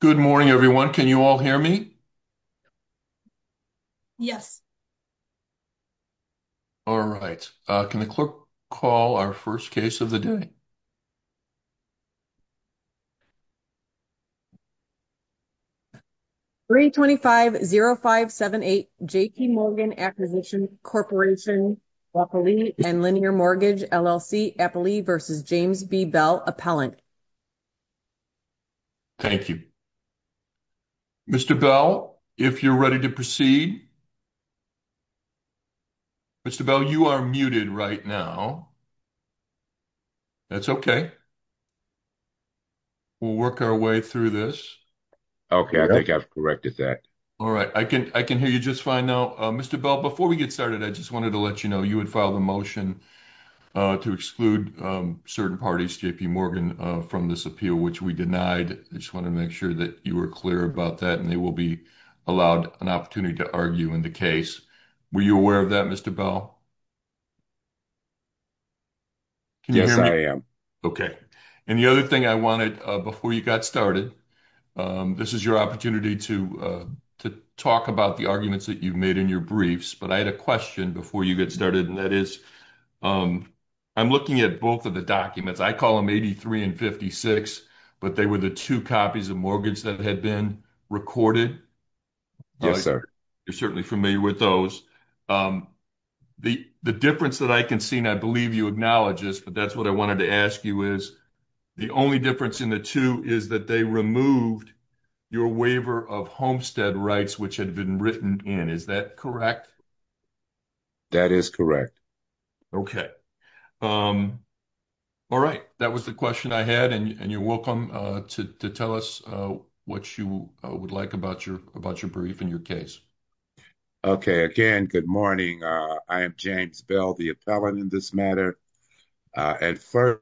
Good morning, everyone. Can you all hear me? Yes. All right, can the clerk call our 1st case of the day? 325-0578 J.P. Morgan Acquisition Corporation, Eppley and Linear Mortgage, LLC, Eppley v. James B. Bell, Appellant. Thank you. Mr. Bell, if you're ready to proceed. Mr. Bell, you are muted right now. That's okay. We'll work our way through this. Okay, I think I've corrected that. All right. I can hear you just fine now. Mr. Bell, before we get started, I just wanted to let you know, you would file the motion to exclude certain parties, J.P. Morgan, from this appeal, which we denied. I just wanted to make sure that you were clear about that, and they will be allowed an opportunity to argue in the case. Were you aware of that, Mr. Bell? Yes, I am. Okay. And the other thing I wanted before you got started, this is your opportunity to talk about the arguments that you've made in your briefs, but I had a question before you get started, and that is, I'm looking at both of the documents, I call them 83 and 56, but they were the 2 copies of mortgage that had been recorded. Yes, sir. You're certainly familiar with those. The difference that I can see, and I believe you acknowledge this, but that's what I wanted to ask you is, the only difference in the two is that they removed your waiver of homestead rights, which had been written in. Is that correct? That is correct. Okay. All right. That was the question I had, and you're welcome to tell us what you would like about your brief and your case. Okay. Again, good morning. I am James Bell, the appellant in this matter. And first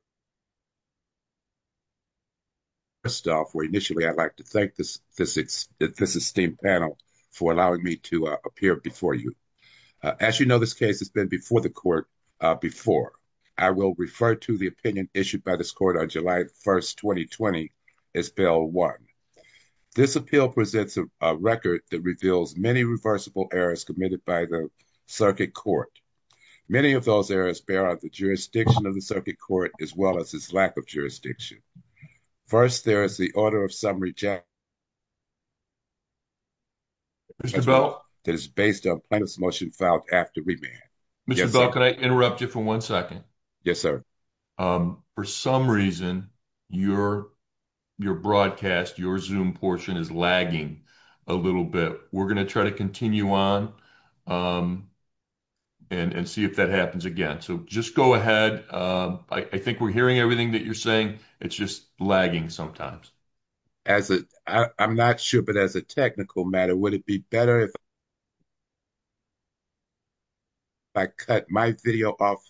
off, initially, I'd like to thank this esteemed panel for allowing me to appear before you. As you know, this case has been before the court before. I will refer to the opinion issued by this court on July 1st, 2020, as Bill 1. This appeal presents a record that reveals many reversible errors committed by the circuit court. Many of those errors bear out the jurisdiction of the circuit court, as well as its lack of jurisdiction. First, there is the order of summary that is based on plaintiff's motion filed after remand. Mr. Bell, can I interrupt you for one second? Yes, sir. For some reason, your broadcast, your Zoom portion is lagging a little bit. We're going to try to continue on and see if that happens again. So, just go ahead. I think we're hearing everything that you're saying. It's just lagging sometimes. I'm not sure, but as a technical matter, would it be better if I cut my video off?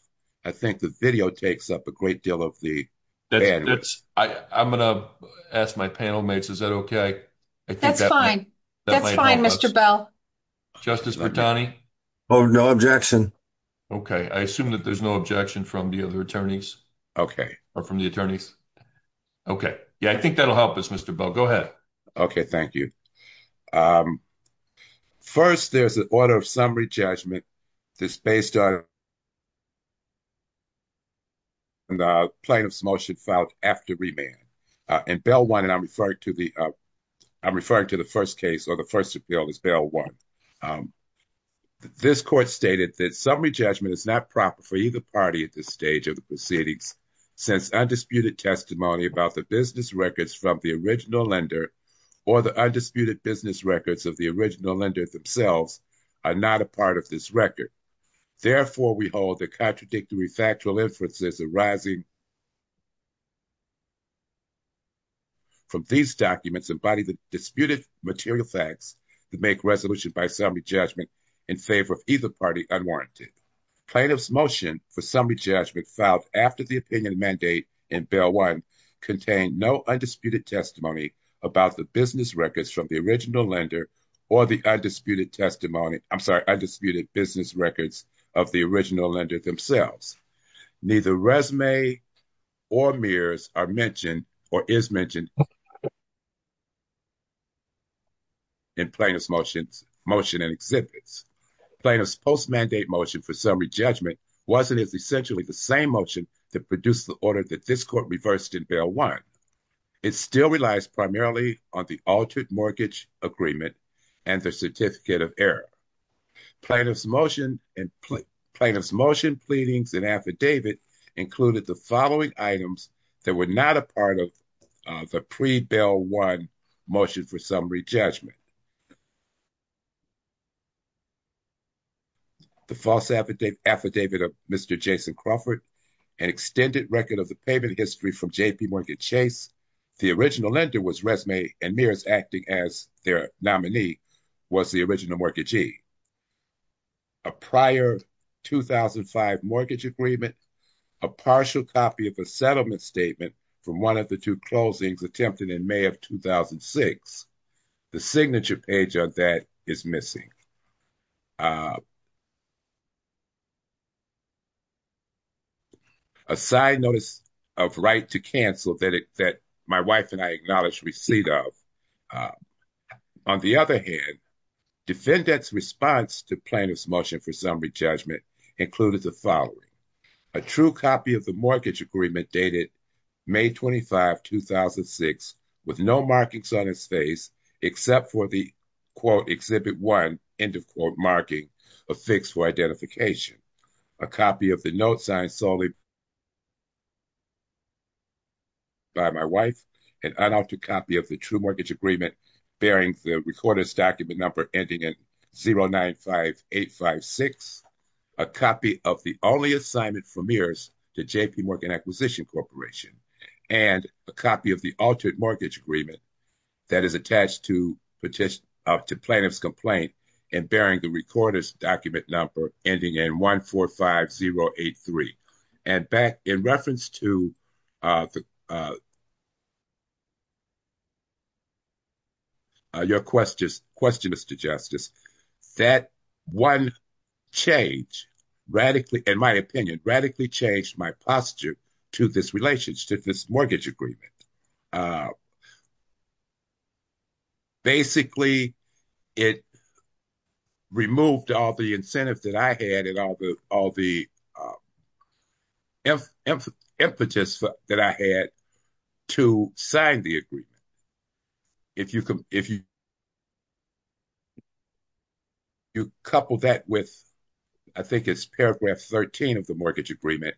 I think the video takes up a great deal of the bandwidth. I'm going to ask my panel mates, is that okay? That's fine. That's fine, Mr. Bell. Justice Bertani? No objection. Okay. I assume that there's no objection from the other attorneys. Okay. Or from the attorneys. Okay. Yeah, I think that'll help us, Mr. Bell. Go ahead. Okay. Thank you. First, there's an order of summary judgment that's based on the plaintiff's motion filed after remand. And Bell 1, and I'm referring to the first case, or the first appeal is Bell 1. This court stated that summary judgment is not proper for either party at this stage of the proceedings since undisputed testimony about the business records from the original lender or the undisputed business records of the original lender themselves are not a part of this record. Therefore, we hold the contradictory factual inferences arising from these documents embody the disputed material facts to make resolution by summary judgment in favor of either party unwarranted. Plaintiff's motion for summary judgment filed after the opinion mandate in Bell 1 contained no undisputed testimony about the business records from the original lender or the undisputed testimony, I'm sorry, undisputed business records of the original lender themselves. Neither resume or mirrors are mentioned or is mentioned in plaintiff's motion and exhibits. Plaintiff's post-mandate motion for summary judgment wasn't as essentially the same motion that produced the order that this court reversed in Bell 1. It still relies primarily on the altered mortgage agreement and the certificate of error. Plaintiff's motion and plaintiff's motion pleadings and affidavit included the following items that were not a part of the pre-Bell 1 motion for summary judgment. The false affidavit of Mr. Jason Crawford, an extended record of the payment history from J.P. Mortgage Chase. The original lender was resume and mirrors acting as their nominee was the original mortgagee. A prior 2005 mortgage agreement, a partial copy of a settlement statement from one of the two closings attempted in May of 2006. The signature page on that is missing. A side notice of right to cancel that my wife and I acknowledge receipt of. On the other hand, defendant's response to plaintiff's motion for summary judgment included the following. A true copy of the mortgage agreement dated May 25, 2006 with no markings on his face except for the quote exhibit one end of quote marking a fix for identification. A copy of the note signed solely by my wife. An unaltered copy of the true mortgage agreement bearing the recorder's document number ending in 095856. A copy of the only assignment for mirrors to J.P. Morgan Acquisition Corporation and a copy of the altered mortgage agreement that is attached to petition to plaintiff's complaint and bearing the recorder's document number ending in 145083. And back in reference to the question, Mr. Justice, that one change radically, in my opinion, radically changed my posture to this relationship, this mortgage agreement. Basically, it removed all the incentives that I had and all the impetus that I had to sign the agreement. If you couple that with, I think it's paragraph 13 of the mortgage agreement,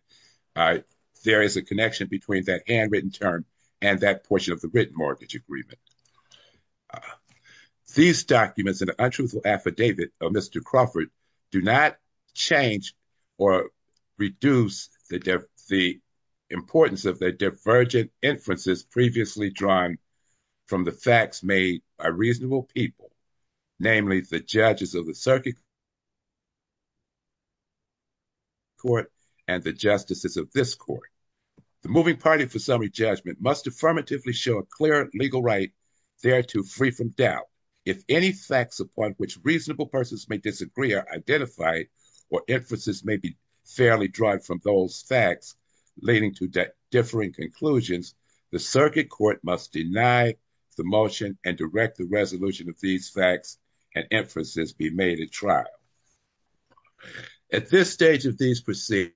all right, there is a connection between that handwritten term and that portion of the written mortgage agreement. These documents and the untruthful affidavit of Mr. Crawford do not change or reduce the importance of the divergent inferences previously drawn from the facts made by reasonable people, namely the judges of the circuit court and the justices of this court. The moving party for summary judgment must affirmatively show a clear legal right thereto free from doubt. If any facts upon which reasonable persons may disagree are identified or inferences may be fairly drawn from those facts, leading to differing conclusions, the circuit court must deny the motion and direct the of these facts and inferences be made at trial. At this stage of these proceedings,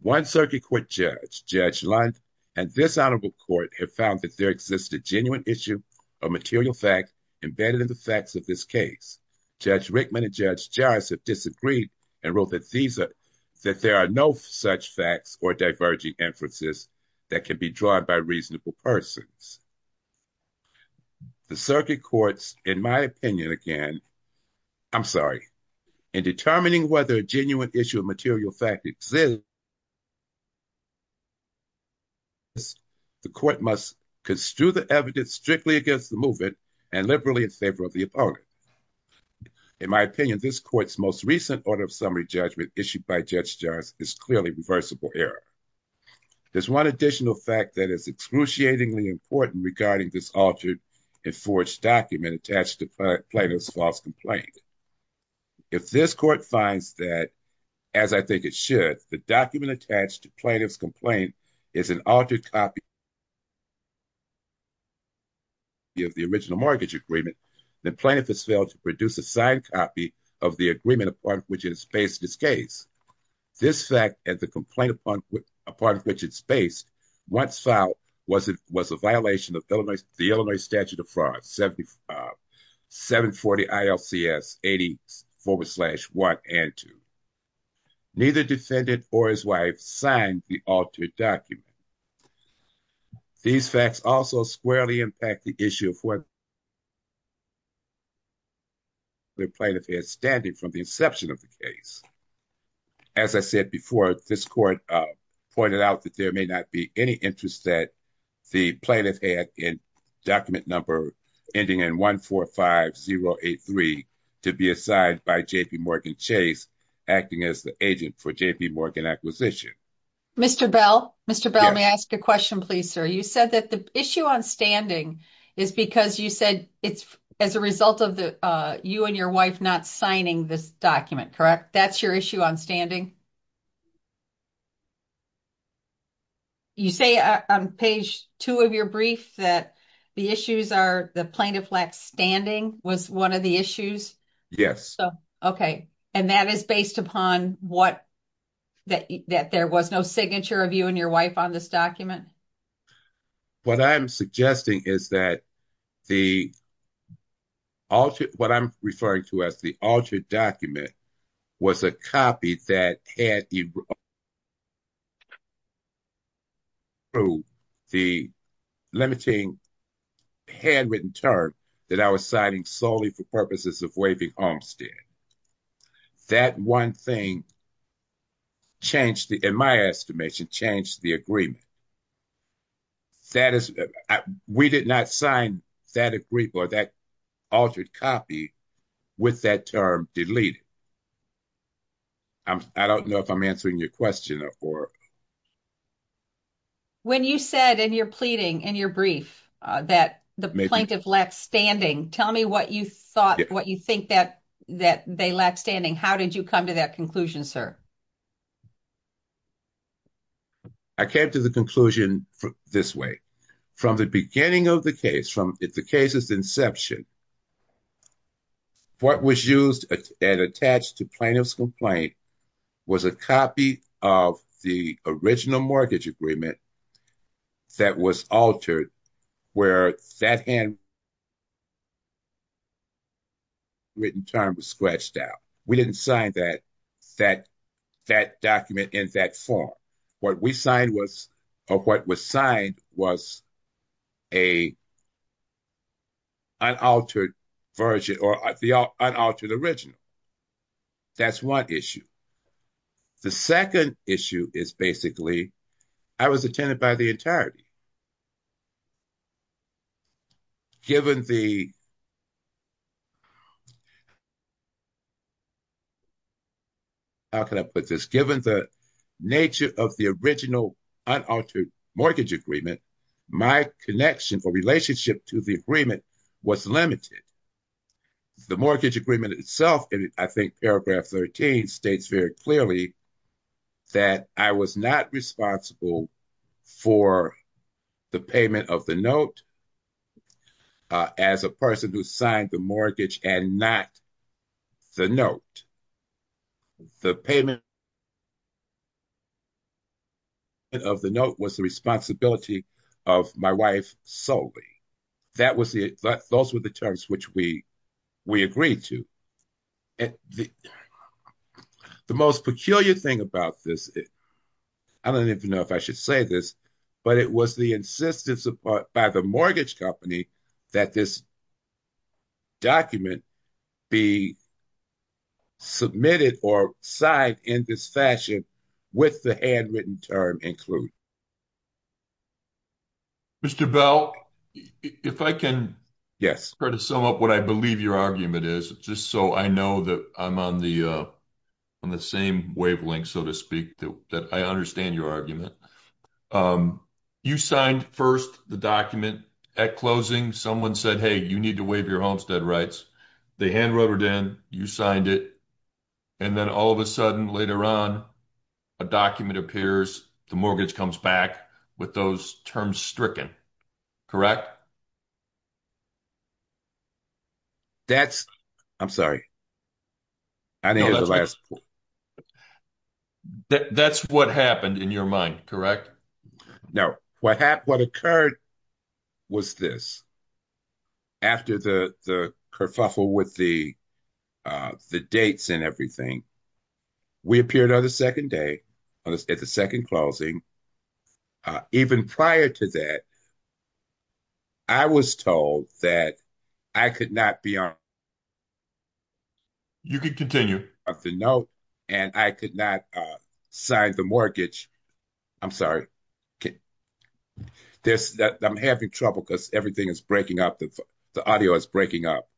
one circuit court judge, Judge Lund, and this honorable court have found that there exists a genuine issue of material fact embedded in the facts of this case. Judge Rickman and Judge Jaris have disagreed and wrote that there are no such facts or diverging inferences that can be drawn by reasonable persons. The circuit courts, in my opinion, again, I'm sorry, in determining whether a genuine issue of material fact exists, the court must construe the evidence strictly against the movement and liberally in favor of the opponent. In my opinion, this court's most recent order of summary judgment issued by Judge Jaris is clearly reversible error. There's one additional fact that is excruciatingly important regarding this altered and forged document attached to plaintiff's false complaint. If this court finds that, as I think it should, the document attached to plaintiff's complaint is an altered copy of the original mortgage agreement, the plaintiff has failed to produce a signed copy of the agreement upon which it is based in this case. This fact and the complaint upon which it's based once filed was a violation of the Illinois statute of fraud, 740 ILCS 80 forward slash 1 and 2. Neither defendant or his wife signed the altered document. These facts also squarely impact the issue of what the plaintiff had standing from the inception of the case. As I said before, this court pointed out that there may not be any interest that the plaintiff had in document number ending in 145083 to be assigned by J.P. Morgan Chase acting as the agent for J.P. Morgan acquisition. Mr. Bell, may I ask a question, please, sir? You said that the issue on standing is because you said it's as a result of you and your wife not signing this document, correct? That's your issue on standing? You say on page two of your brief that the issues are the plaintiff lacked standing was one of the issues? Yes. Okay. And that is based upon what that there was no signature of you and your wife on this document? What I'm suggesting is that what I'm referring to as the altered document was a copy that had through the limiting handwritten term that I was signing solely for purposes of waiving homestead. That one thing changed, in my estimation, changed the agreement. That is, we did not sign that agree or that altered copy with that term deleted. I don't know if I'm answering your question or. When you said in your pleading in your brief that the plaintiff left standing, tell me what you thought, what you think that they left standing. How did you come to that conclusion, sir? I came to the conclusion this way. From the beginning of the case, from the case's inception, what was used and attached to plaintiff's complaint was a copy of the original mortgage agreement that was altered where that hand written term was scratched out. We didn't sign that document in that form. What we signed was a unaltered version or the unaltered original. That's one issue. The second issue is basically, I was attended by the entirety. Given the, how can I put this, given the nature of the original unaltered mortgage agreement, my connection or relationship to the agreement was limited. The mortgage agreement itself, I think paragraph 13 states very clearly that I was not responsible for the payment of the note as a person who signed the mortgage and not the note. The payment of the note was the responsibility of my wife solely. Those were the terms which we agreed to. And the most peculiar thing about this, I don't even know if I should say this, but it was the insistence by the mortgage company that this document be submitted or signed in this fashion with the handwritten term included. Mr. Bell, if I can try to sum up what I believe your argument is, just so I know that I'm on the same wavelength, so to speak, that I understand your argument. You signed first the document at closing. Someone said, hey, you need to waive your homestead rights. They hand wrote it in, you signed it, and then all of a sudden later on, a document appears, the mortgage comes back, with those terms stricken. Correct? That's what happened in your mind, correct? No. What occurred was this. After the kerfuffle with the dates and everything, we appeared on the second day, at the second closing. Even prior to that, I was told that I could not be on the note and I could not sign the mortgage. I'm sorry. I'm having trouble because everything is breaking up. The audio is breaking up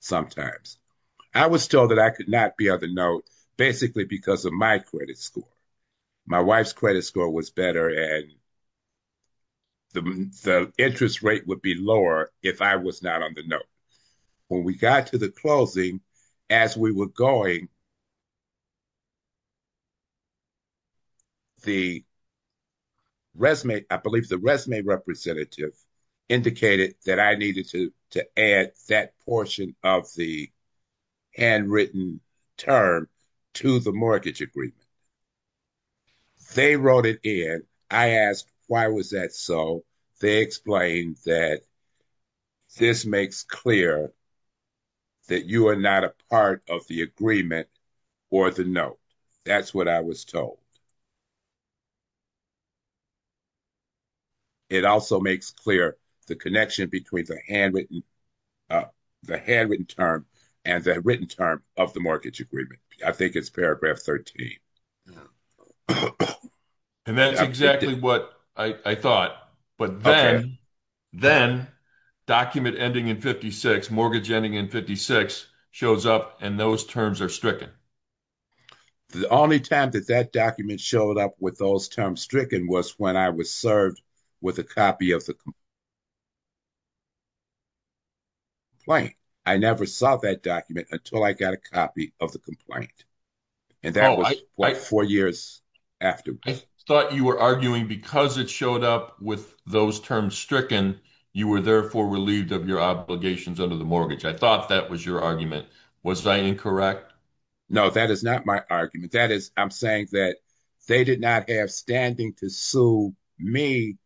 sometimes. I was told that I could not be on the note basically because of my credit score. My wife's credit score was better and the interest rate would be lower if I was not on the note. When we got to the closing, as we were going, I believe the resume representative indicated that I needed to add that portion of the handwritten term to the mortgage agreement. They wrote it in. I asked, why was that so? They explained that this makes clear that you are not a part of the agreement or the note. That's what I was told. It also makes clear the connection between the handwritten term and the written term of the mortgage agreement. I think it's paragraph 13. Yeah. That's exactly what I thought. Then, document ending in 56, mortgage ending in 56, shows up and those terms are stricken. The only time that that document showed up with those terms stricken was when I was served with a copy of the complaint. I never saw that document until I got a copy of the complaint. That was four years after. I thought you were arguing because it showed up with those terms stricken, you were therefore relieved of your obligations under the mortgage. I thought that was your argument. Was I incorrect? No, that is not my argument. I'm saying that they did not have standing to sue me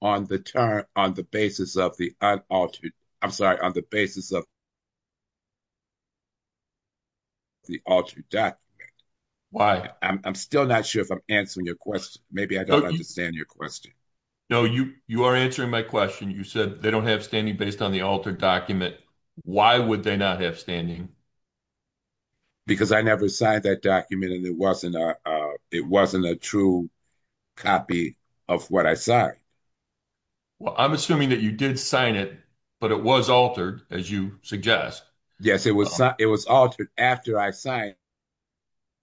on the basis of the altered document. Why? I'm still not sure if I'm answering your question. Maybe I don't understand your question. No, you are answering my question. You said they don't have standing based on the altered document. Why would they not have standing? Because I never signed that document and it wasn't a true copy of what I signed. Well, I'm assuming that you did sign it, but it was altered as you suggest. Yes, it was. It was altered after I signed.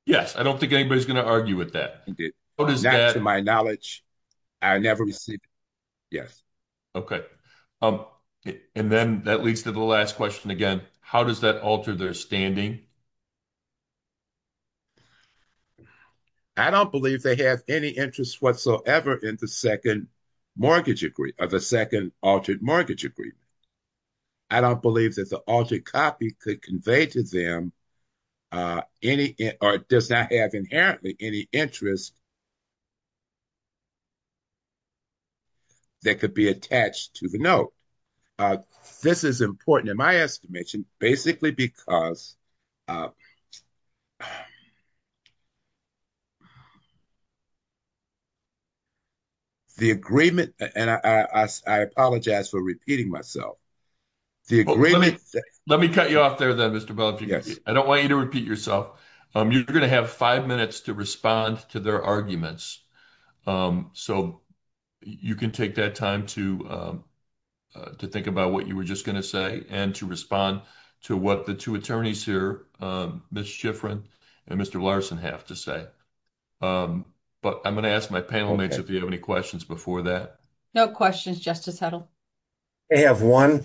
Yes, I don't think anybody's going to argue with that. Not to my knowledge. I never received it. Yes. Okay. And then that leads to the last question again. How does that alter their standing? I don't believe they have any interest whatsoever in the second mortgage agreement or the second altered mortgage agreement. I don't believe that the altered copy could convey to them or does not have inherently any interest that could be attached to the note. This is important in my estimation, basically because of the agreement. And I apologize for repeating myself. Let me cut you off there then, Mr. Bell. I don't want you to repeat yourself. You're going to have five minutes to respond to their arguments. So you can take that time to to think about what you were just going to say and to respond to what the two attorneys here, Ms. Schifrin and Mr. Larson, have to say. But I'm going to ask my panel mates if you have any questions before that. No questions, Justice Heddle. I have one.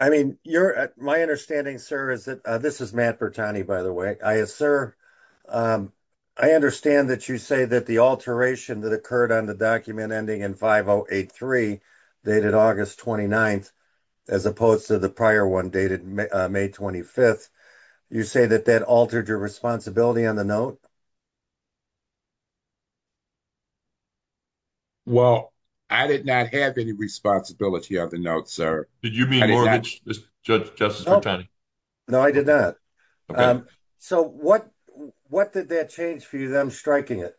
I mean, my understanding, sir, is that this is Matt Bertani, by the way. Sir, I understand that you say that the alteration that occurred on the document ending in 5083 dated August 29th as opposed to the prior one dated May 25th. You say that that altered your responsibility on the note? Well, I did not have any responsibility on the note, sir. Did you mean mortgage, Justice Bertani? No, I did not. Okay. So what did that change for you? I'm striking it.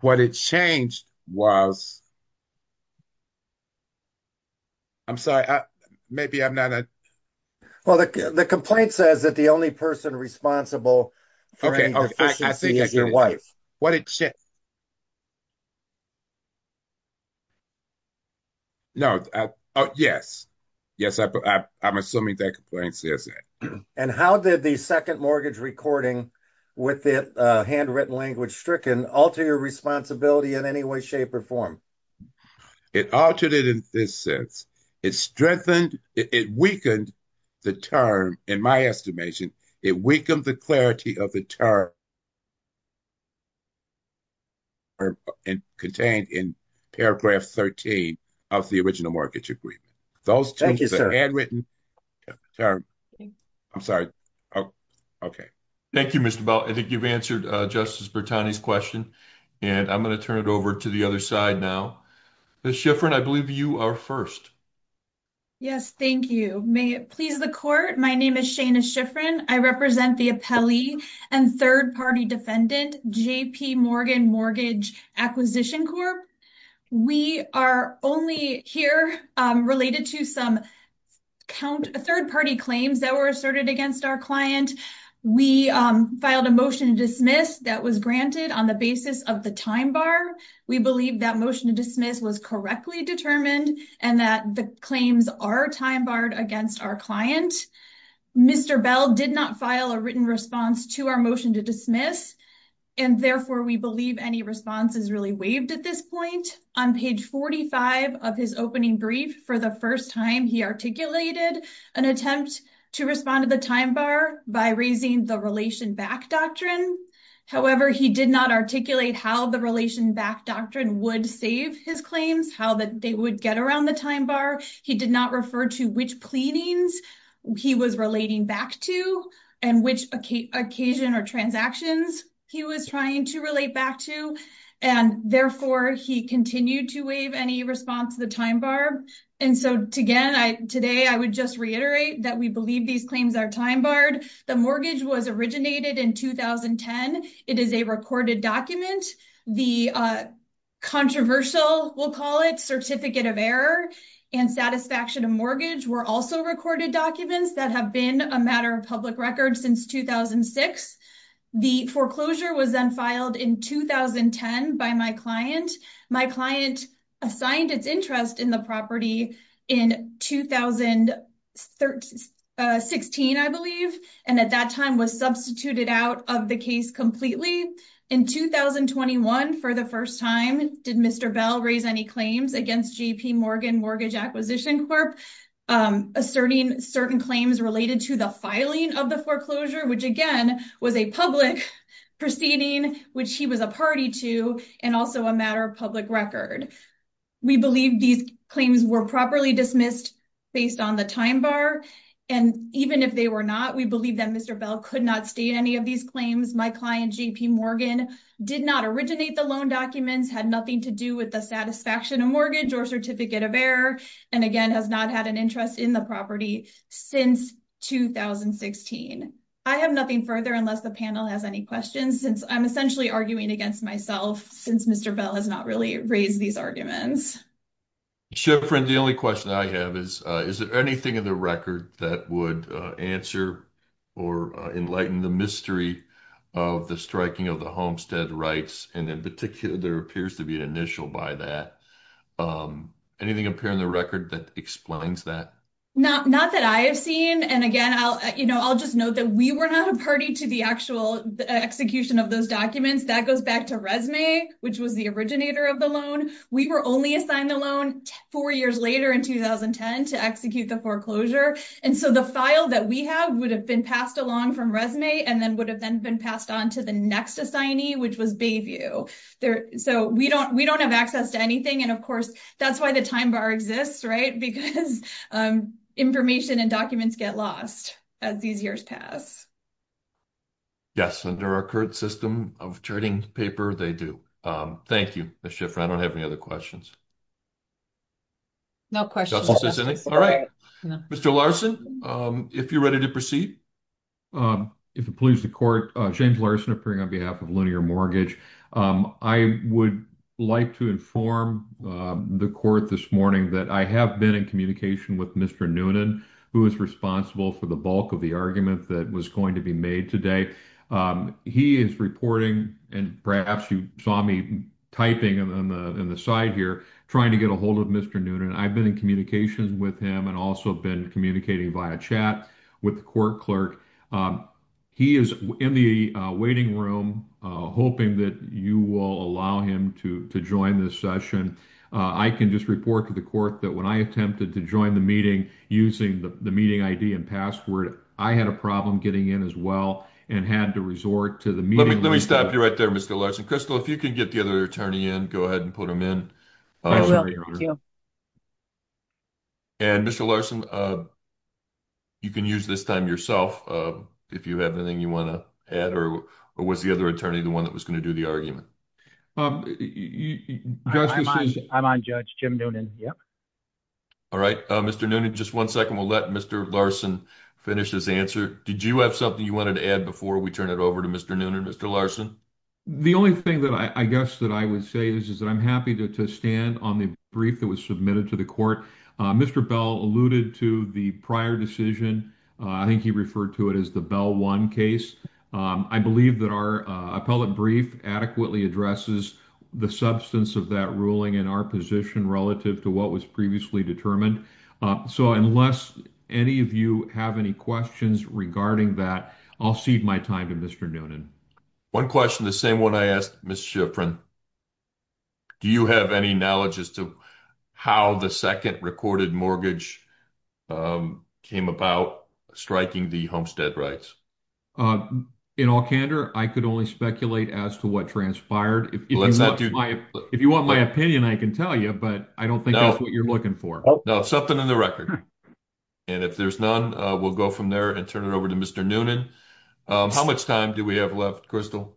What it changed was... I'm sorry. Maybe I'm not a... Well, the complaint says that the only person responsible for any deficiency is your wife. What it changed... No. Oh, yes. Yes, I'm assuming that complaint says that. And how did the second mortgage recording with the handwritten language stricken alter your responsibility in any way, shape, or form? It altered it in this sense. It weakened the term, in my estimation. It weakened the clarity of the term contained in paragraph 13 of the original mortgage agreement. Those changes are handwritten. I'm sorry. Okay. Thank you, Mr. Bell. I think you've answered Justice Bertani's question. And I'm going to turn it over to the other side now. Ms. Schifrin, I believe you are first. Yes, thank you. May it please the court. My name is Shaina Schifrin. I represent the appellee and third-party defendant, J.P. Morgan Mortgage Acquisition Corp. We are only here related to some third-party claims that were asserted against our client. We filed a motion to dismiss that was granted on the basis of the time bar. We believe that motion to dismiss was correctly determined and that the claims are time barred against our client. Mr. Bell did not file a written response to our motion to dismiss. And therefore, we believe any response is really waived at this point. On page 45 of his opening brief, for the first time, he articulated an attempt to respond to the time bar by raising the relation back doctrine. However, he did not how the relation back doctrine would save his claims, how they would get around the time bar. He did not refer to which pleadings he was relating back to and which occasion or transactions he was trying to relate back to. And therefore, he continued to waive any response to the time bar. And so, again, today, I would just reiterate that we believe these claims are time barred. The mortgage was originated in 2010. It is a recorded document. The controversial, we'll call it, Certificate of Error and Satisfaction of Mortgage were also recorded documents that have been a matter of public record since 2006. The foreclosure was then and at that time was substituted out of the case completely. In 2021, for the first time, did Mr. Bell raise any claims against J.P. Morgan Mortgage Acquisition Corp, asserting certain claims related to the filing of the foreclosure, which, again, was a public proceeding, which he was a party to, and also a matter of public record. We believe these claims were properly dismissed based on the time bar. And even if they were not, we believe that Mr. Bell could not state any of these claims. My client, J.P. Morgan, did not originate the loan documents, had nothing to do with the Satisfaction of Mortgage or Certificate of Error, and, again, has not had an interest in the property since 2016. I have nothing further unless the panel has any questions since I'm essentially arguing against myself since Mr. Bell has not really raised these arguments. Sure, friend. The only question I have is, is there anything in the record that would answer or enlighten the mystery of the striking of the homestead rights? And, in particular, there appears to be an initial by that. Anything appear in the record that explains that? Not that I have seen. And, again, I'll just note that we were not a party to the actual execution of those documents. That goes back to Resume, which was the originator of the loan. We were only assigned the loan four years later in 2010 to execute the foreclosure. And so the file that we have would have been passed along from Resume and then would have then been passed on to the next assignee, which was Bayview. So we don't have access to anything. And, of course, that's why the time bar exists, right? Because information and documents get lost as these years pass. Yes, under our current system of charting paper, they do. Thank you, Ms. Schiffer. I don't have any other questions. No questions. All right. Mr. Larson, if you're ready to proceed. If it pleases the Court, James Larson, appearing on behalf of Linear Mortgage. I would like to inform the Court this morning that I have been in communication with Mr. Noonan, who is responsible for the bulk of the argument that was going to be made today. He is reporting, and perhaps you saw me typing on the side here, trying to get a hold of Mr. Noonan. I've been in communications with him and also been communicating via chat with the Court Clerk. He is in the waiting room, hoping that you will allow him to join this session. I can just report to the Court that when I attempted to join the meeting using the meeting ID and password, I had a problem getting in as well and had to resort to the meeting. Let me stop you right there, Mr. Larson. Crystal, if you can get the other attorney in, go ahead and put him in. I will. Thank you. And, Mr. Larson, you can use this time yourself if you have anything you want to add, or was the attorney the one that was going to do the argument? I'm on, Judge. Jim Noonan. All right. Mr. Noonan, just one second. We'll let Mr. Larson finish his answer. Did you have something you wanted to add before we turn it over to Mr. Noonan? Mr. Larson? The only thing that I guess that I would say is that I'm happy to stand on the brief that was submitted to the Court. Mr. Bell alluded to the prior decision. I think he referred to it as the L1 case. I believe that our appellate brief adequately addresses the substance of that ruling and our position relative to what was previously determined. So, unless any of you have any questions regarding that, I'll cede my time to Mr. Noonan. One question, the same one I asked Ms. Schifrin. Do you have any knowledge as to how the second recorded mortgage came about striking the homestead rights? In all candor, I could only speculate as to what transpired. If you want my opinion, I can tell you, but I don't think that's what you're looking for. No, something in the record. And if there's none, we'll go from there and turn it over to Mr. Noonan. How much time do we have left, Crystal?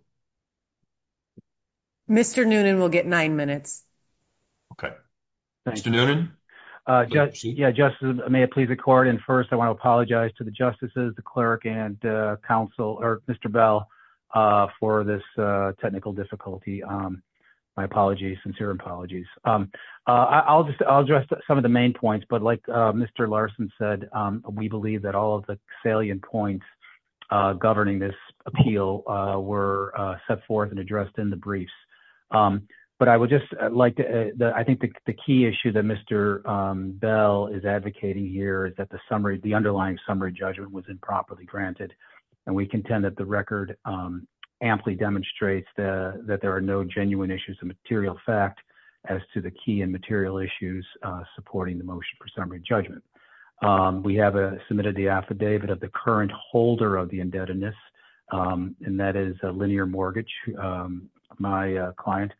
Mr. Noonan will get nine minutes. Okay. Mr. Noonan? Yeah, Justice, may it please the court. And first, I want to apologize to the justices, the clerk and counsel, or Mr. Bell, for this technical difficulty. My apologies, sincere apologies. I'll address some of the main points, but like Mr. Larson said, we believe that all of the salient points governing this appeal were set forth and addressed in the briefs. But I would like to, I think the key issue that Mr. Bell is advocating here is that the underlying summary judgment was improperly granted. And we contend that the record amply demonstrates that there are no genuine issues of material fact as to the key and material issues supporting the motion for summary judgment. We have submitted the affidavit of the current holder of the indebtedness, and that is a linear mortgage. My client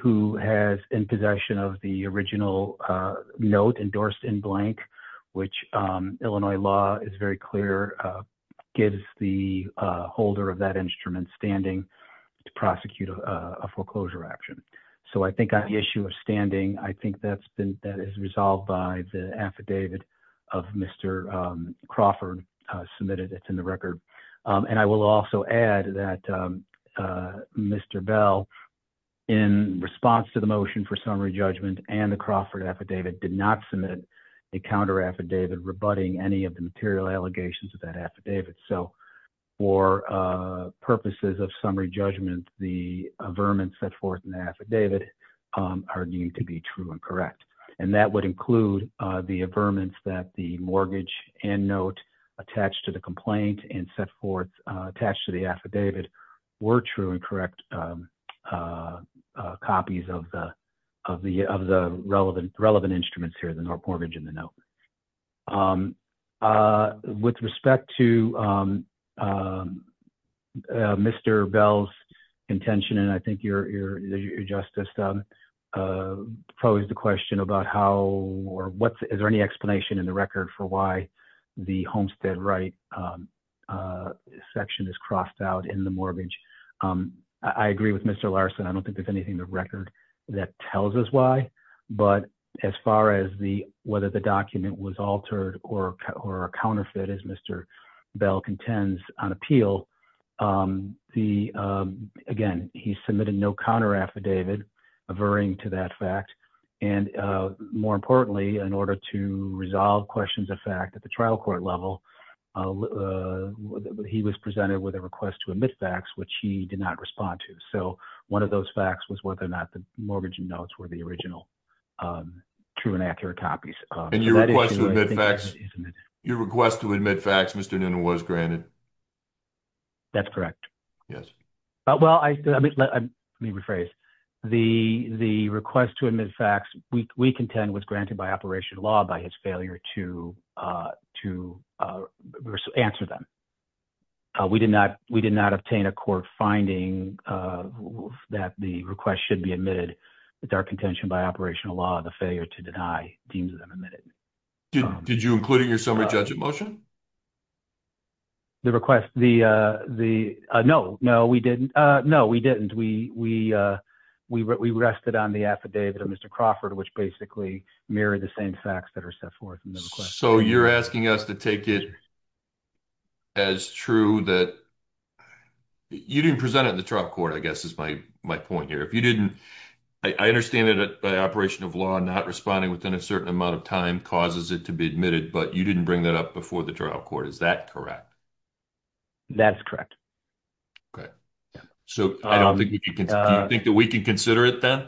who has in possession of the original note endorsed in blank, which Illinois law is very clear, gives the holder of that instrument standing to prosecute a foreclosure action. So I think on the issue of standing, I think that's resolved by the affidavit of Mr. Crawford submitted that's in the record. And I will also add that Mr. Bell, in response to the motion for summary judgment and the Crawford affidavit, did not submit a counter affidavit rebutting any of the material allegations of that affidavit. So for purposes of summary judgment, the vermin set forth in the affidavit are deemed to be true and that would include the affirmance that the mortgage and note attached to the complaint and set forth attached to the affidavit were true and correct copies of the relevant instruments here, the mortgage and the note. With respect to Mr. Bell's contention, and I think your justice posed the question about how or what, is there any explanation in the record for why the Homestead right section is crossed out in the mortgage? I agree with Mr. Larson. I don't think there's anything in the record that tells us why, but as far as whether the document was altered or a counterfeit, as Mr. Bell contends on appeal, again, he submitted no counter affidavit averring to that fact. And more importantly, in order to resolve questions of fact at the trial court level, he was presented with a request to admit facts, which he did not respond to. So one of those facts was whether or not the mortgage and notes were the original true and accurate copies. And your request to admit facts, Mr. Noonan, was granted? That's correct. Yes. Well, let me rephrase. The request to admit facts, we contend was granted by operation law by his failure to answer them. We did not obtain a court finding of that the request should be admitted. It's our contention by operational law, the failure to deny deems them admitted. Did you include in your summary judgment motion? The request, the, no, no, we didn't. No, we didn't. We rested on the affidavit of Mr. Crawford, which basically mirrored the same facts that are set forth in the request. So you're asking us to it as true that you didn't present it in the trial court, I guess is my point here. If you didn't, I understand that by operation of law, not responding within a certain amount of time causes it to be admitted, but you didn't bring that up before the trial court. Is that correct? That's correct. Okay. Yeah. So do you think that we can consider it then?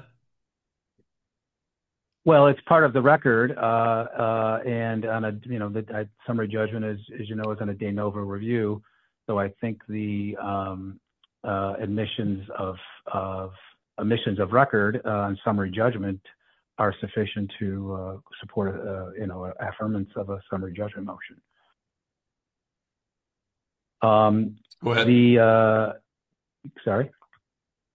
Well, it's part of the record and on a, you know, the summary judgment is, as you know, it's on a day over review. So I think the admissions of, of emissions of record on summary judgment are sufficient to support, you know, affirmance of a summary judgment motion. Go ahead. Sorry.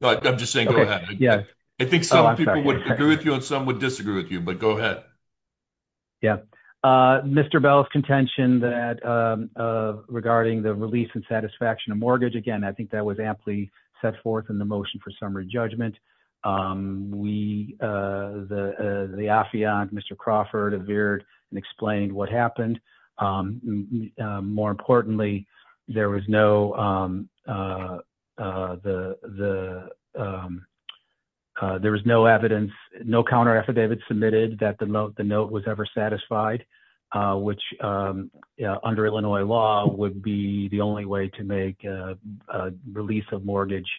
No, I'm just saying, go ahead. Yeah. I think some people would agree with you and some would disagree with you, but go ahead. Yeah. Mr. Bell's contention that regarding the release and satisfaction of mortgage. Again, I think that was amply set forth in the motion for summary judgment. We the, the Afian, Mr. Crawford appeared and explained what happened. More importantly, there was no the, the there was no evidence, no counter affidavits submitted that the note, the note was ever satisfied, which under Illinois law would be the only way to make release of mortgage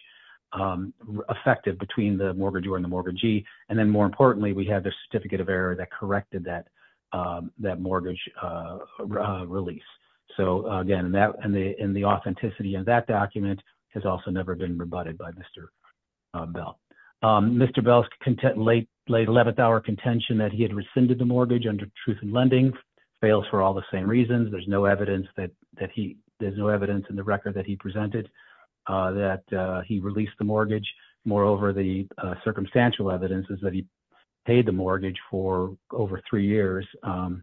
effective between the mortgage or in the mortgagee. And then more importantly, we have the certificate of error that corrected that that mortgage release. So again, and that, and the, and the authenticity of that document has also never been rebutted by Mr. Bell. Mr. Bell's content, late, late 11th hour contention that he had rescinded the mortgage under truth and lending fails for all the same reasons. There's no evidence that, that he, there's no evidence in the record that he presented that he released the mortgage. Moreover, the circumstantial evidence is that he paid the mortgage for over three years. You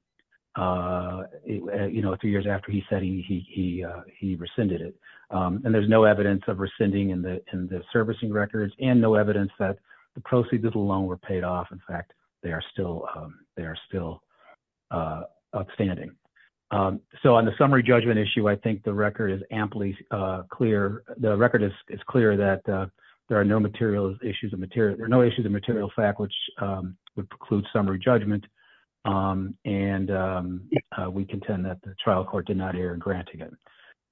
know, three years after he said he, he, he he rescinded it. And there's no evidence of rescinding in the, in the servicing records and no evidence that the proceeds of the loan were paid off. In the record is amply clear. The record is clear that there are no materials issues of material, there are no issues of material fact, which would preclude summary judgment. And we contend that the trial court did not air and granting it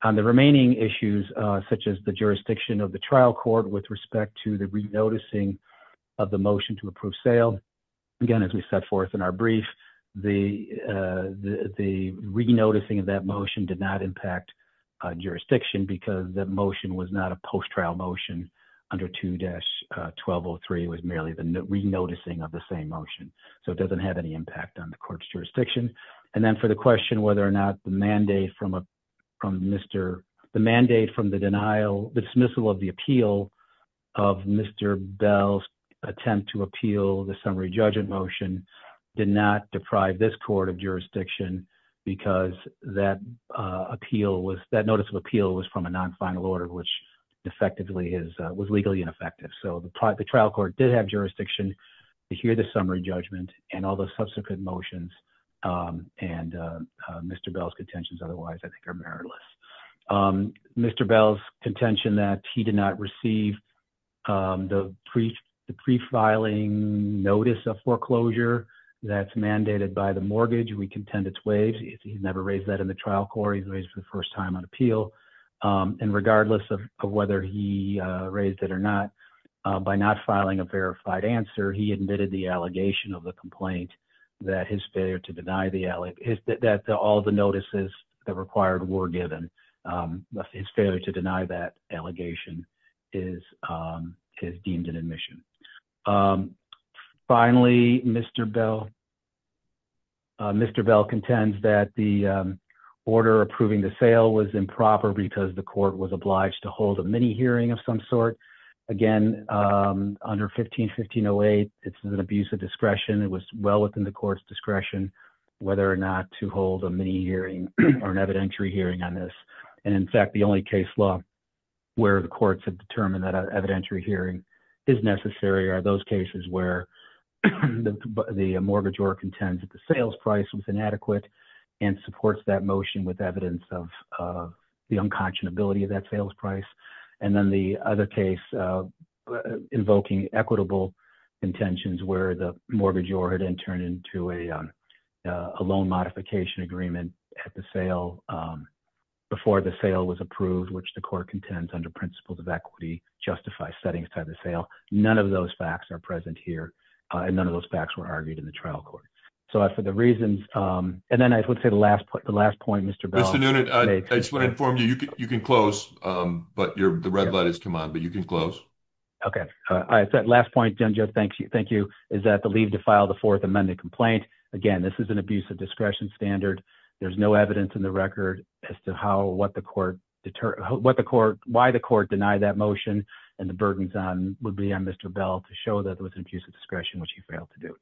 on the remaining issues, such as the jurisdiction of the trial court with respect to the renoticing of the motion to approve sale. Again, as we set forth in our brief, the, the, the re-noticing of that motion did not impact a jurisdiction because that motion was not a post-trial motion under 2-1203 was merely the re-noticing of the same motion. So it doesn't have any impact on the court's jurisdiction. And then for the question, whether or not the mandate from a, from Mr. The mandate from the denial, the dismissal of the of Mr. Bell's attempt to appeal the summary judgment motion did not deprive this court of jurisdiction because that appeal was that notice of appeal was from a non-final order, which effectively is was legally ineffective. So the trial court did have jurisdiction to hear the summary judgment and all the subsequent motions and Mr. Bell's contentions. Otherwise I think Mr. Bell's contention that he did not receive the pre the prefiling notice of foreclosure that's mandated by the mortgage. We contend it's waves. He's never raised that in the trial court. He's raised for the first time on appeal. And regardless of whether he raised it or not by not filing a verified answer, he admitted the allegation of the complaint that his failure to required were given his failure to deny that allegation is, is deemed an admission. Finally, Mr. Bell, Mr. Bell contends that the order approving the sale was improper because the court was obliged to hold a mini hearing of some sort again under 15, 1508, it's an abuse of discretion. It was well within the court's discretion, whether or not to hold a mini hearing or an evidentiary hearing on this. And in fact, the only case law where the courts have determined that evidentiary hearing is necessary or those cases where the mortgage or contends that the sales price was inadequate and supports that motion with evidence of the unconscionability of that sales price. And then the other case invoking equitable intentions where the mortgage or had interned into a loan modification agreement at the sale before the sale was approved, which the court contends under principles of equity, justify settings type of sale. None of those facts are present here. And none of those facts were argued in the trial court. So for the reasons, and then I would say the last point, the last point, Mr. Bell, I just want to inform you, you can, you can close, but you're the red thank you. Is that the leave to file the fourth amended complaint? Again, this is an abuse of discretion standard. There's no evidence in the record as to how, what the court deter, what the court, why the court denied that motion and the burdens on would be on Mr. Bell to show that there was an abuse of discretion, which he failed to do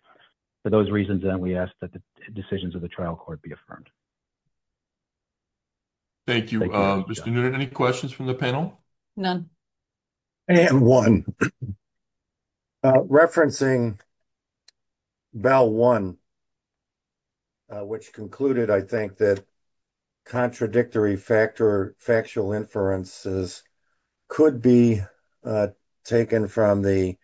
for those reasons. And we asked that the decisions of the trial court be affirmed. Thank you. Mr. Newton, any questions from the panel? None. And one referencing Bell one, which concluded, I think that contradictory factor, factual inferences could be taken from the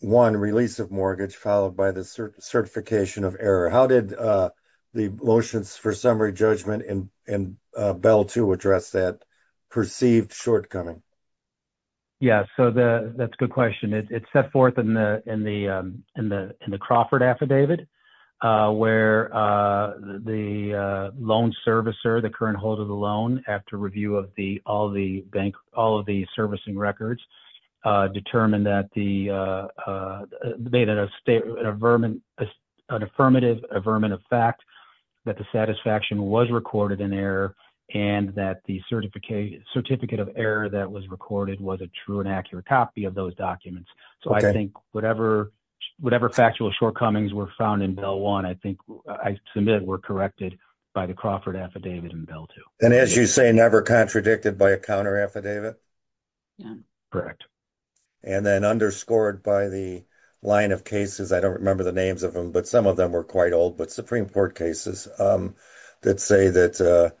one release of mortgage followed by the certification of error. How did the motions for summary judgment and, and Bell to address that perceived shortcoming? Yeah. So the, that's a good question. It's set forth in the, in the, in the, in the Crawford affidavit where the loan servicer, the current hold of the loan after review of the, all the bank, all of the servicing records determined that the a beta state, a vermin, an affirmative, a vermin of fact that the satisfaction was recorded in error and that the certification certificate of error that was recorded was a true and accurate copy of those documents. So I think whatever, whatever factual shortcomings were found in Bell one, I think I submitted were corrected by the Crawford affidavit and Bell too. And as you say, never contradicted by a counter affidavit. Correct. And then underscored by the line of cases, I don't remember the names of them, but some of them were quite old, but Supreme court cases that say that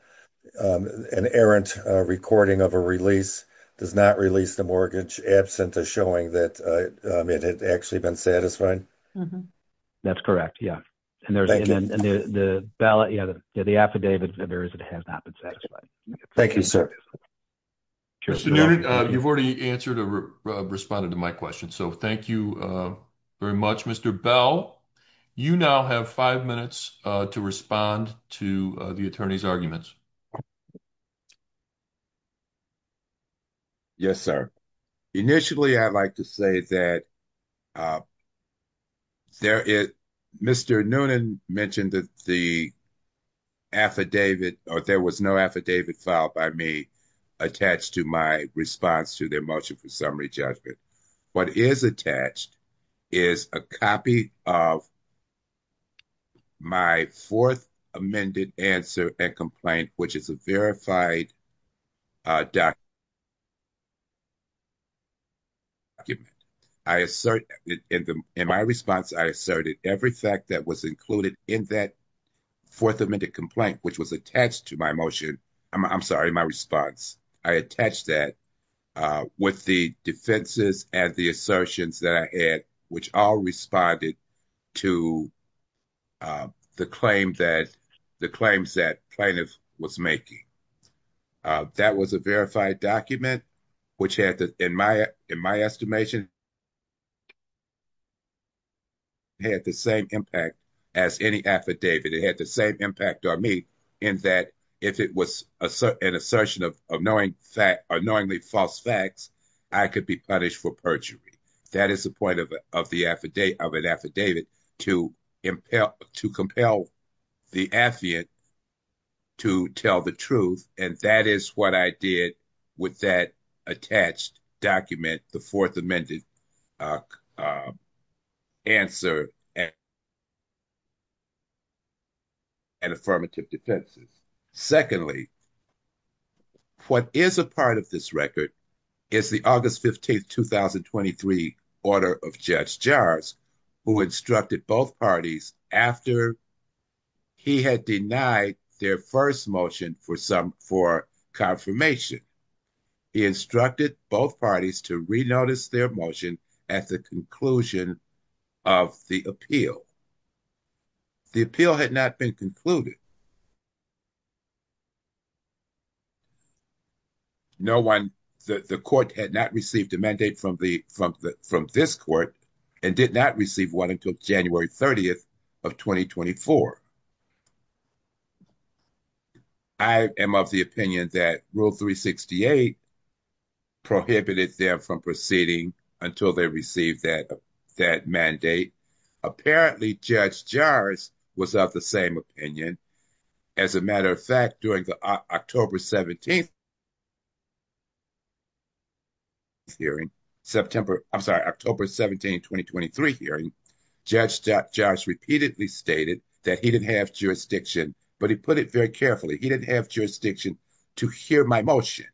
an errant recording of a release does not release the mortgage absent to showing that it had actually been satisfying. That's correct. Yeah. And there's the ballot, you know, the affidavit that there is, has not been satisfied. Thank you, sir. You've already answered or responded to my question. So thank you very much, Mr. Bell, you now have five minutes to respond to the attorney's arguments. Yes, sir. Initially, I'd like to say that there is Mr. Noonan mentioned that the affidavit, or there was no affidavit filed by me attached to my response to their motion for summary judgment. What is attached is a copy of my fourth amended answer and complaint, which is a verified document. Okay. I assert in my response, I asserted every fact that was included in that fourth amended complaint, which was attached to my motion. I'm sorry, my response. I attached that with the defenses and the assertions that I had, which all responded to the claims that plaintiff was making. That was a verified document, which had, in my estimation, had the same impact as any affidavit. It had the same impact on me in that if it was an assertion of annoying fact, annoyingly false facts, I could be punished for perjury. That is the point of an affidavit, to compel the affiant to tell the truth. That is what I did with that attached document, the fourth amended answer and affirmative defenses. Secondly, what is a part of this record is the August 15th, 2023 order of Judge Jars, who instructed both parties after he had denied their first motion for confirmation. He instructed both parties to re-notice their motion at the conclusion of the appeal. The appeal had not been concluded. No one, the court had not received a mandate from this court and did not receive one until January 30th of 2024. I am of the opinion that Rule 368 prohibited them from proceeding until they received that mandate. Apparently, Judge Jars was of the same opinion. As a matter of fact, during the October 17th, 2023 hearing, Judge Jars repeatedly stated that he did not have jurisdiction, but he put it very carefully. He did not have jurisdiction to hear my motion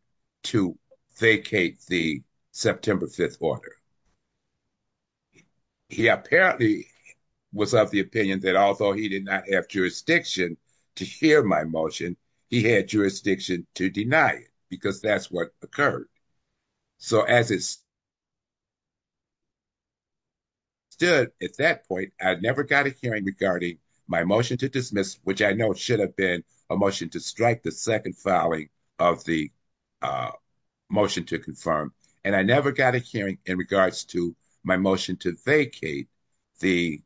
to vacate the September 5th order. He apparently was of the opinion that although he did not have jurisdiction to hear my motion, he had jurisdiction to deny it because that is what occurred. As it stood at that point, I never got a hearing regarding my motion to dismiss, which I know should have been a motion to strike the second filing of the motion to confirm. I did not get a hearing on the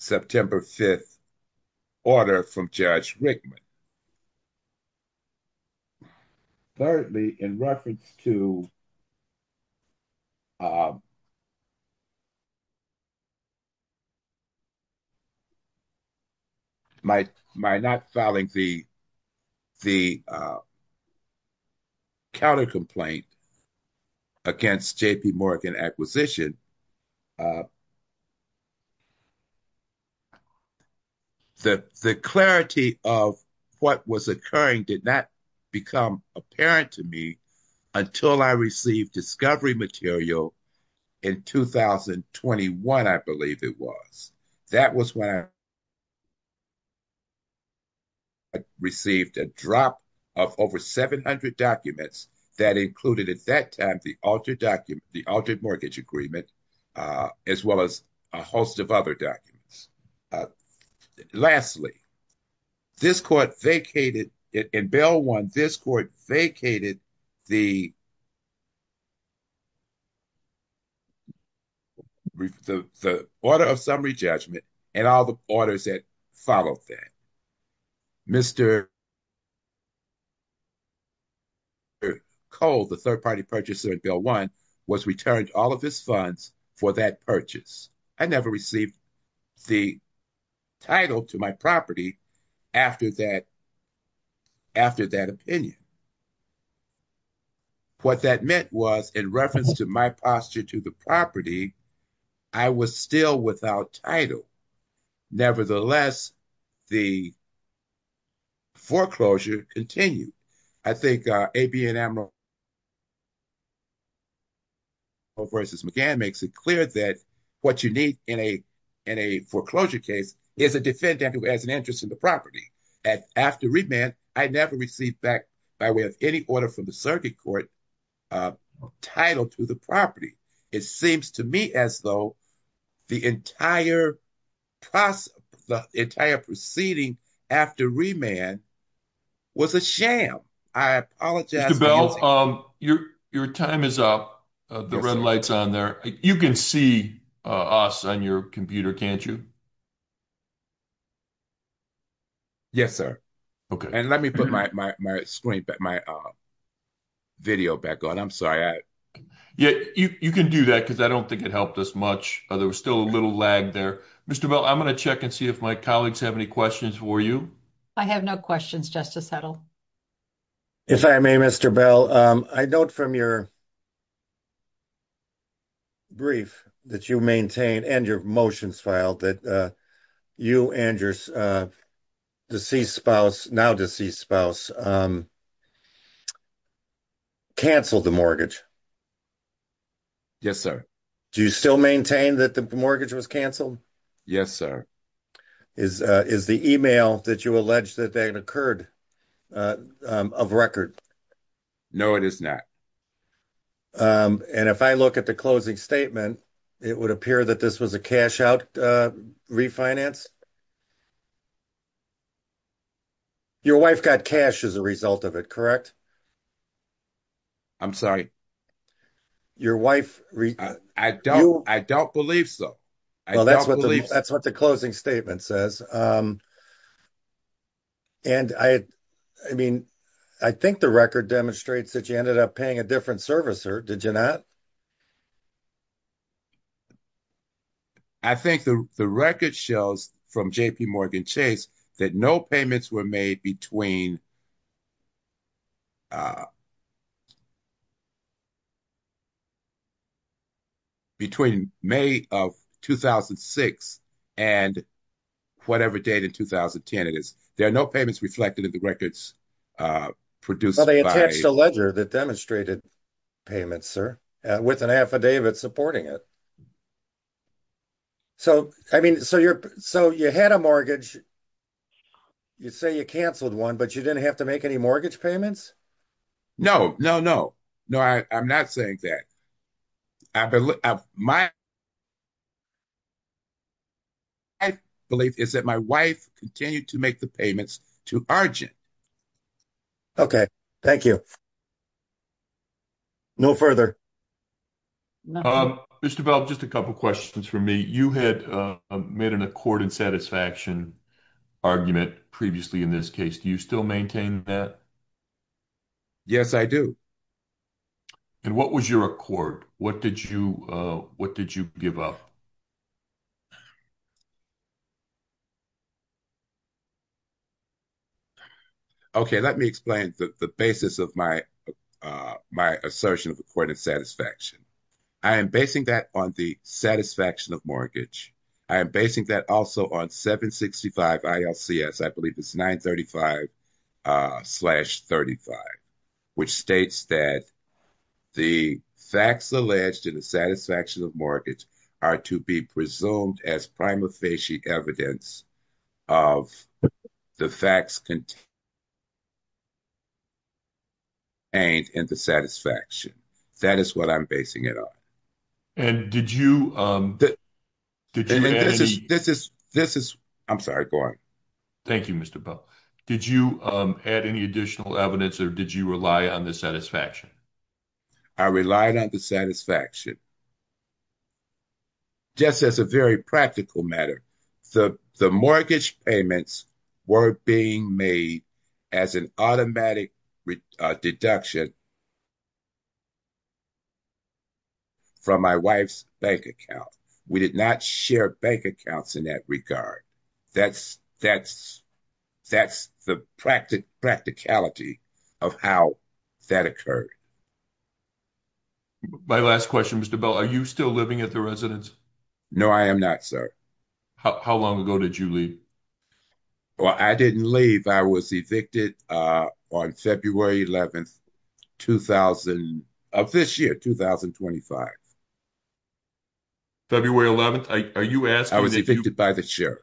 September 5th order from Judge Rickman. Thirdly, in reference to my not filing the counter-complaint against JPMorgan Acquisition, the clarity of what was occurring did not become apparent to me until I received discovery material in 2021, I believe it was. That was when I received a drop of over 700 documents that included, at that time, the altered mortgage agreement as well as a host of other documents. Lastly, in Bill 1, this court vacated the order of summary judgment and all the orders that followed that. Mr. Cole, the third-party purchaser at Bill 1, was returned all of his funds for that purchase. I never received the title to my property after that opinion. What that meant was, in reference to my posture to the property, I was still without title. Nevertheless, the foreclosure continued. I think A.B. Enamor v. McGann makes it clear that what you need in a foreclosure case is a defendant who has an interest in the property. After Rickman, I never received back, by way of any order from the circuit court, a title to the property. It seems to me as though the entire proceeding after Rickman was a sham. I apologize. Mr. Bell, your time is up. You can see us on your computer, can't you? Yes, sir. Let me put my video back on. I'm sorry. You can do that, because I don't think it helped us much. There was still a little lag there. Mr. Bell, I'm going to check and see if my colleagues have any questions for you. I have no questions, Justice Heddle. If I may, Mr. Bell, I note from your brief that you maintained, and your motions filed, that you and your now-deceased spouse cancelled the mortgage. Yes, sir. Do you still maintain that the mortgage was cancelled? Yes, sir. Is the email that you allege that that occurred of record? No, it is not. If I look at the closing statement, it would appear that this was a cash-out refinance. Your wife got cash as a result of it, correct? I'm sorry. I don't believe so. Well, that's what the closing statement says. I think the record demonstrates that you ended up paying a different servicer, did you not? I think the record shows from JPMorgan Chase that no payments were made between May of 2006 and whatever date in 2010 it is. There are no payments reflected in the records produced by— Well, they attached a ledger that demonstrated payments, sir, with an affidavit supporting it. So you had a mortgage. You say you cancelled one, but you didn't have to make any mortgage payments? No, no, no. No, I'm not saying that. My belief is that my wife continued to make the payments to Argent. Okay, thank you. No further. Mr. Bell, just a couple questions for me. You had made an accord and satisfaction argument previously in this case. Do you still maintain that? Yes, I do. And what was your accord? What did you give up? Okay, let me explain the basis of my assertion of accord and satisfaction. I am basing that on the satisfaction of mortgage. I am basing that also on 765 ILCS. I believe it's 935 slash 35, which states that the facts alleged in the satisfaction of mortgage are to be presumed as prima facie evidence of the facts contained in the satisfaction. That is what I'm basing it on. And did you— This is—I'm sorry, go on. Thank you, Mr. Bell. Did you add any additional evidence or did you rely on the satisfaction? I relied on the satisfaction. Just as a very practical matter, the mortgage payments were being made as an automatic deduction from my wife's bank account. We did not share bank accounts in that regard. That's the practicality of how that occurred. My last question, Mr. Bell, are you still living at the residence? No, I am not, sir. How long ago did you leave? Well, I didn't leave. I was evicted on February 11th of this year, 2025. February 11th? Are you asking— I was evicted by the sheriff.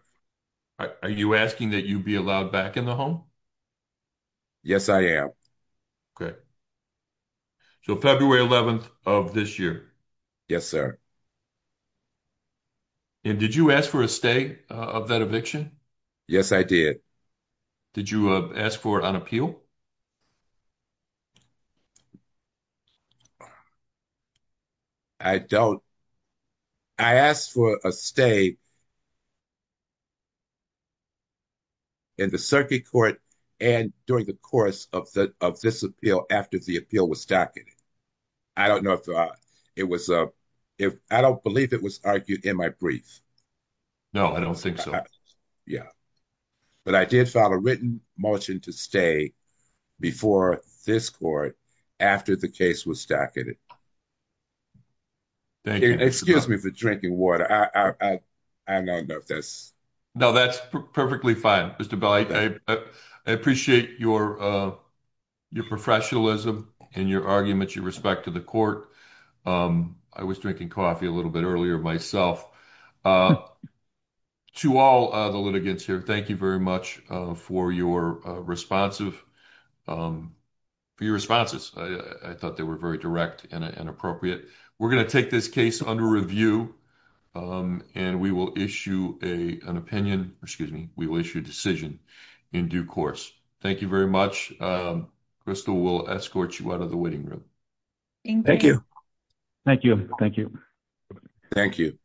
Are you asking that you be allowed back in the home? Yes, I am. Okay. So, February 11th of this year? Yes, sir. And did you ask for a stay of that eviction? Yes, I did. Did you ask for an appeal? I don't. I asked for a stay in the circuit court and during the course of this appeal after the appeal was docketed. I don't know if it was—I don't believe it was argued in my brief. No, I don't think so. Yeah. But I did file a written motion to stay before this court after the case was docketed. Thank you. Excuse me for drinking water. I don't know if that's— No, that's perfectly fine, Mr. Bell. I appreciate your professionalism and your argument, your respect to the court. I was drinking coffee a little bit earlier myself. To all the litigants here, thank you very much for your responsive—for your responses. I thought they were very direct and appropriate. We're going to take this case under review, and we will issue an opinion—excuse me, we will issue a decision in due course. Thank you very much. Crystal, we'll escort you out of the waiting room. Thank you. Thank you. Thank you. Thank you. Thank you. Thank you. Thank you.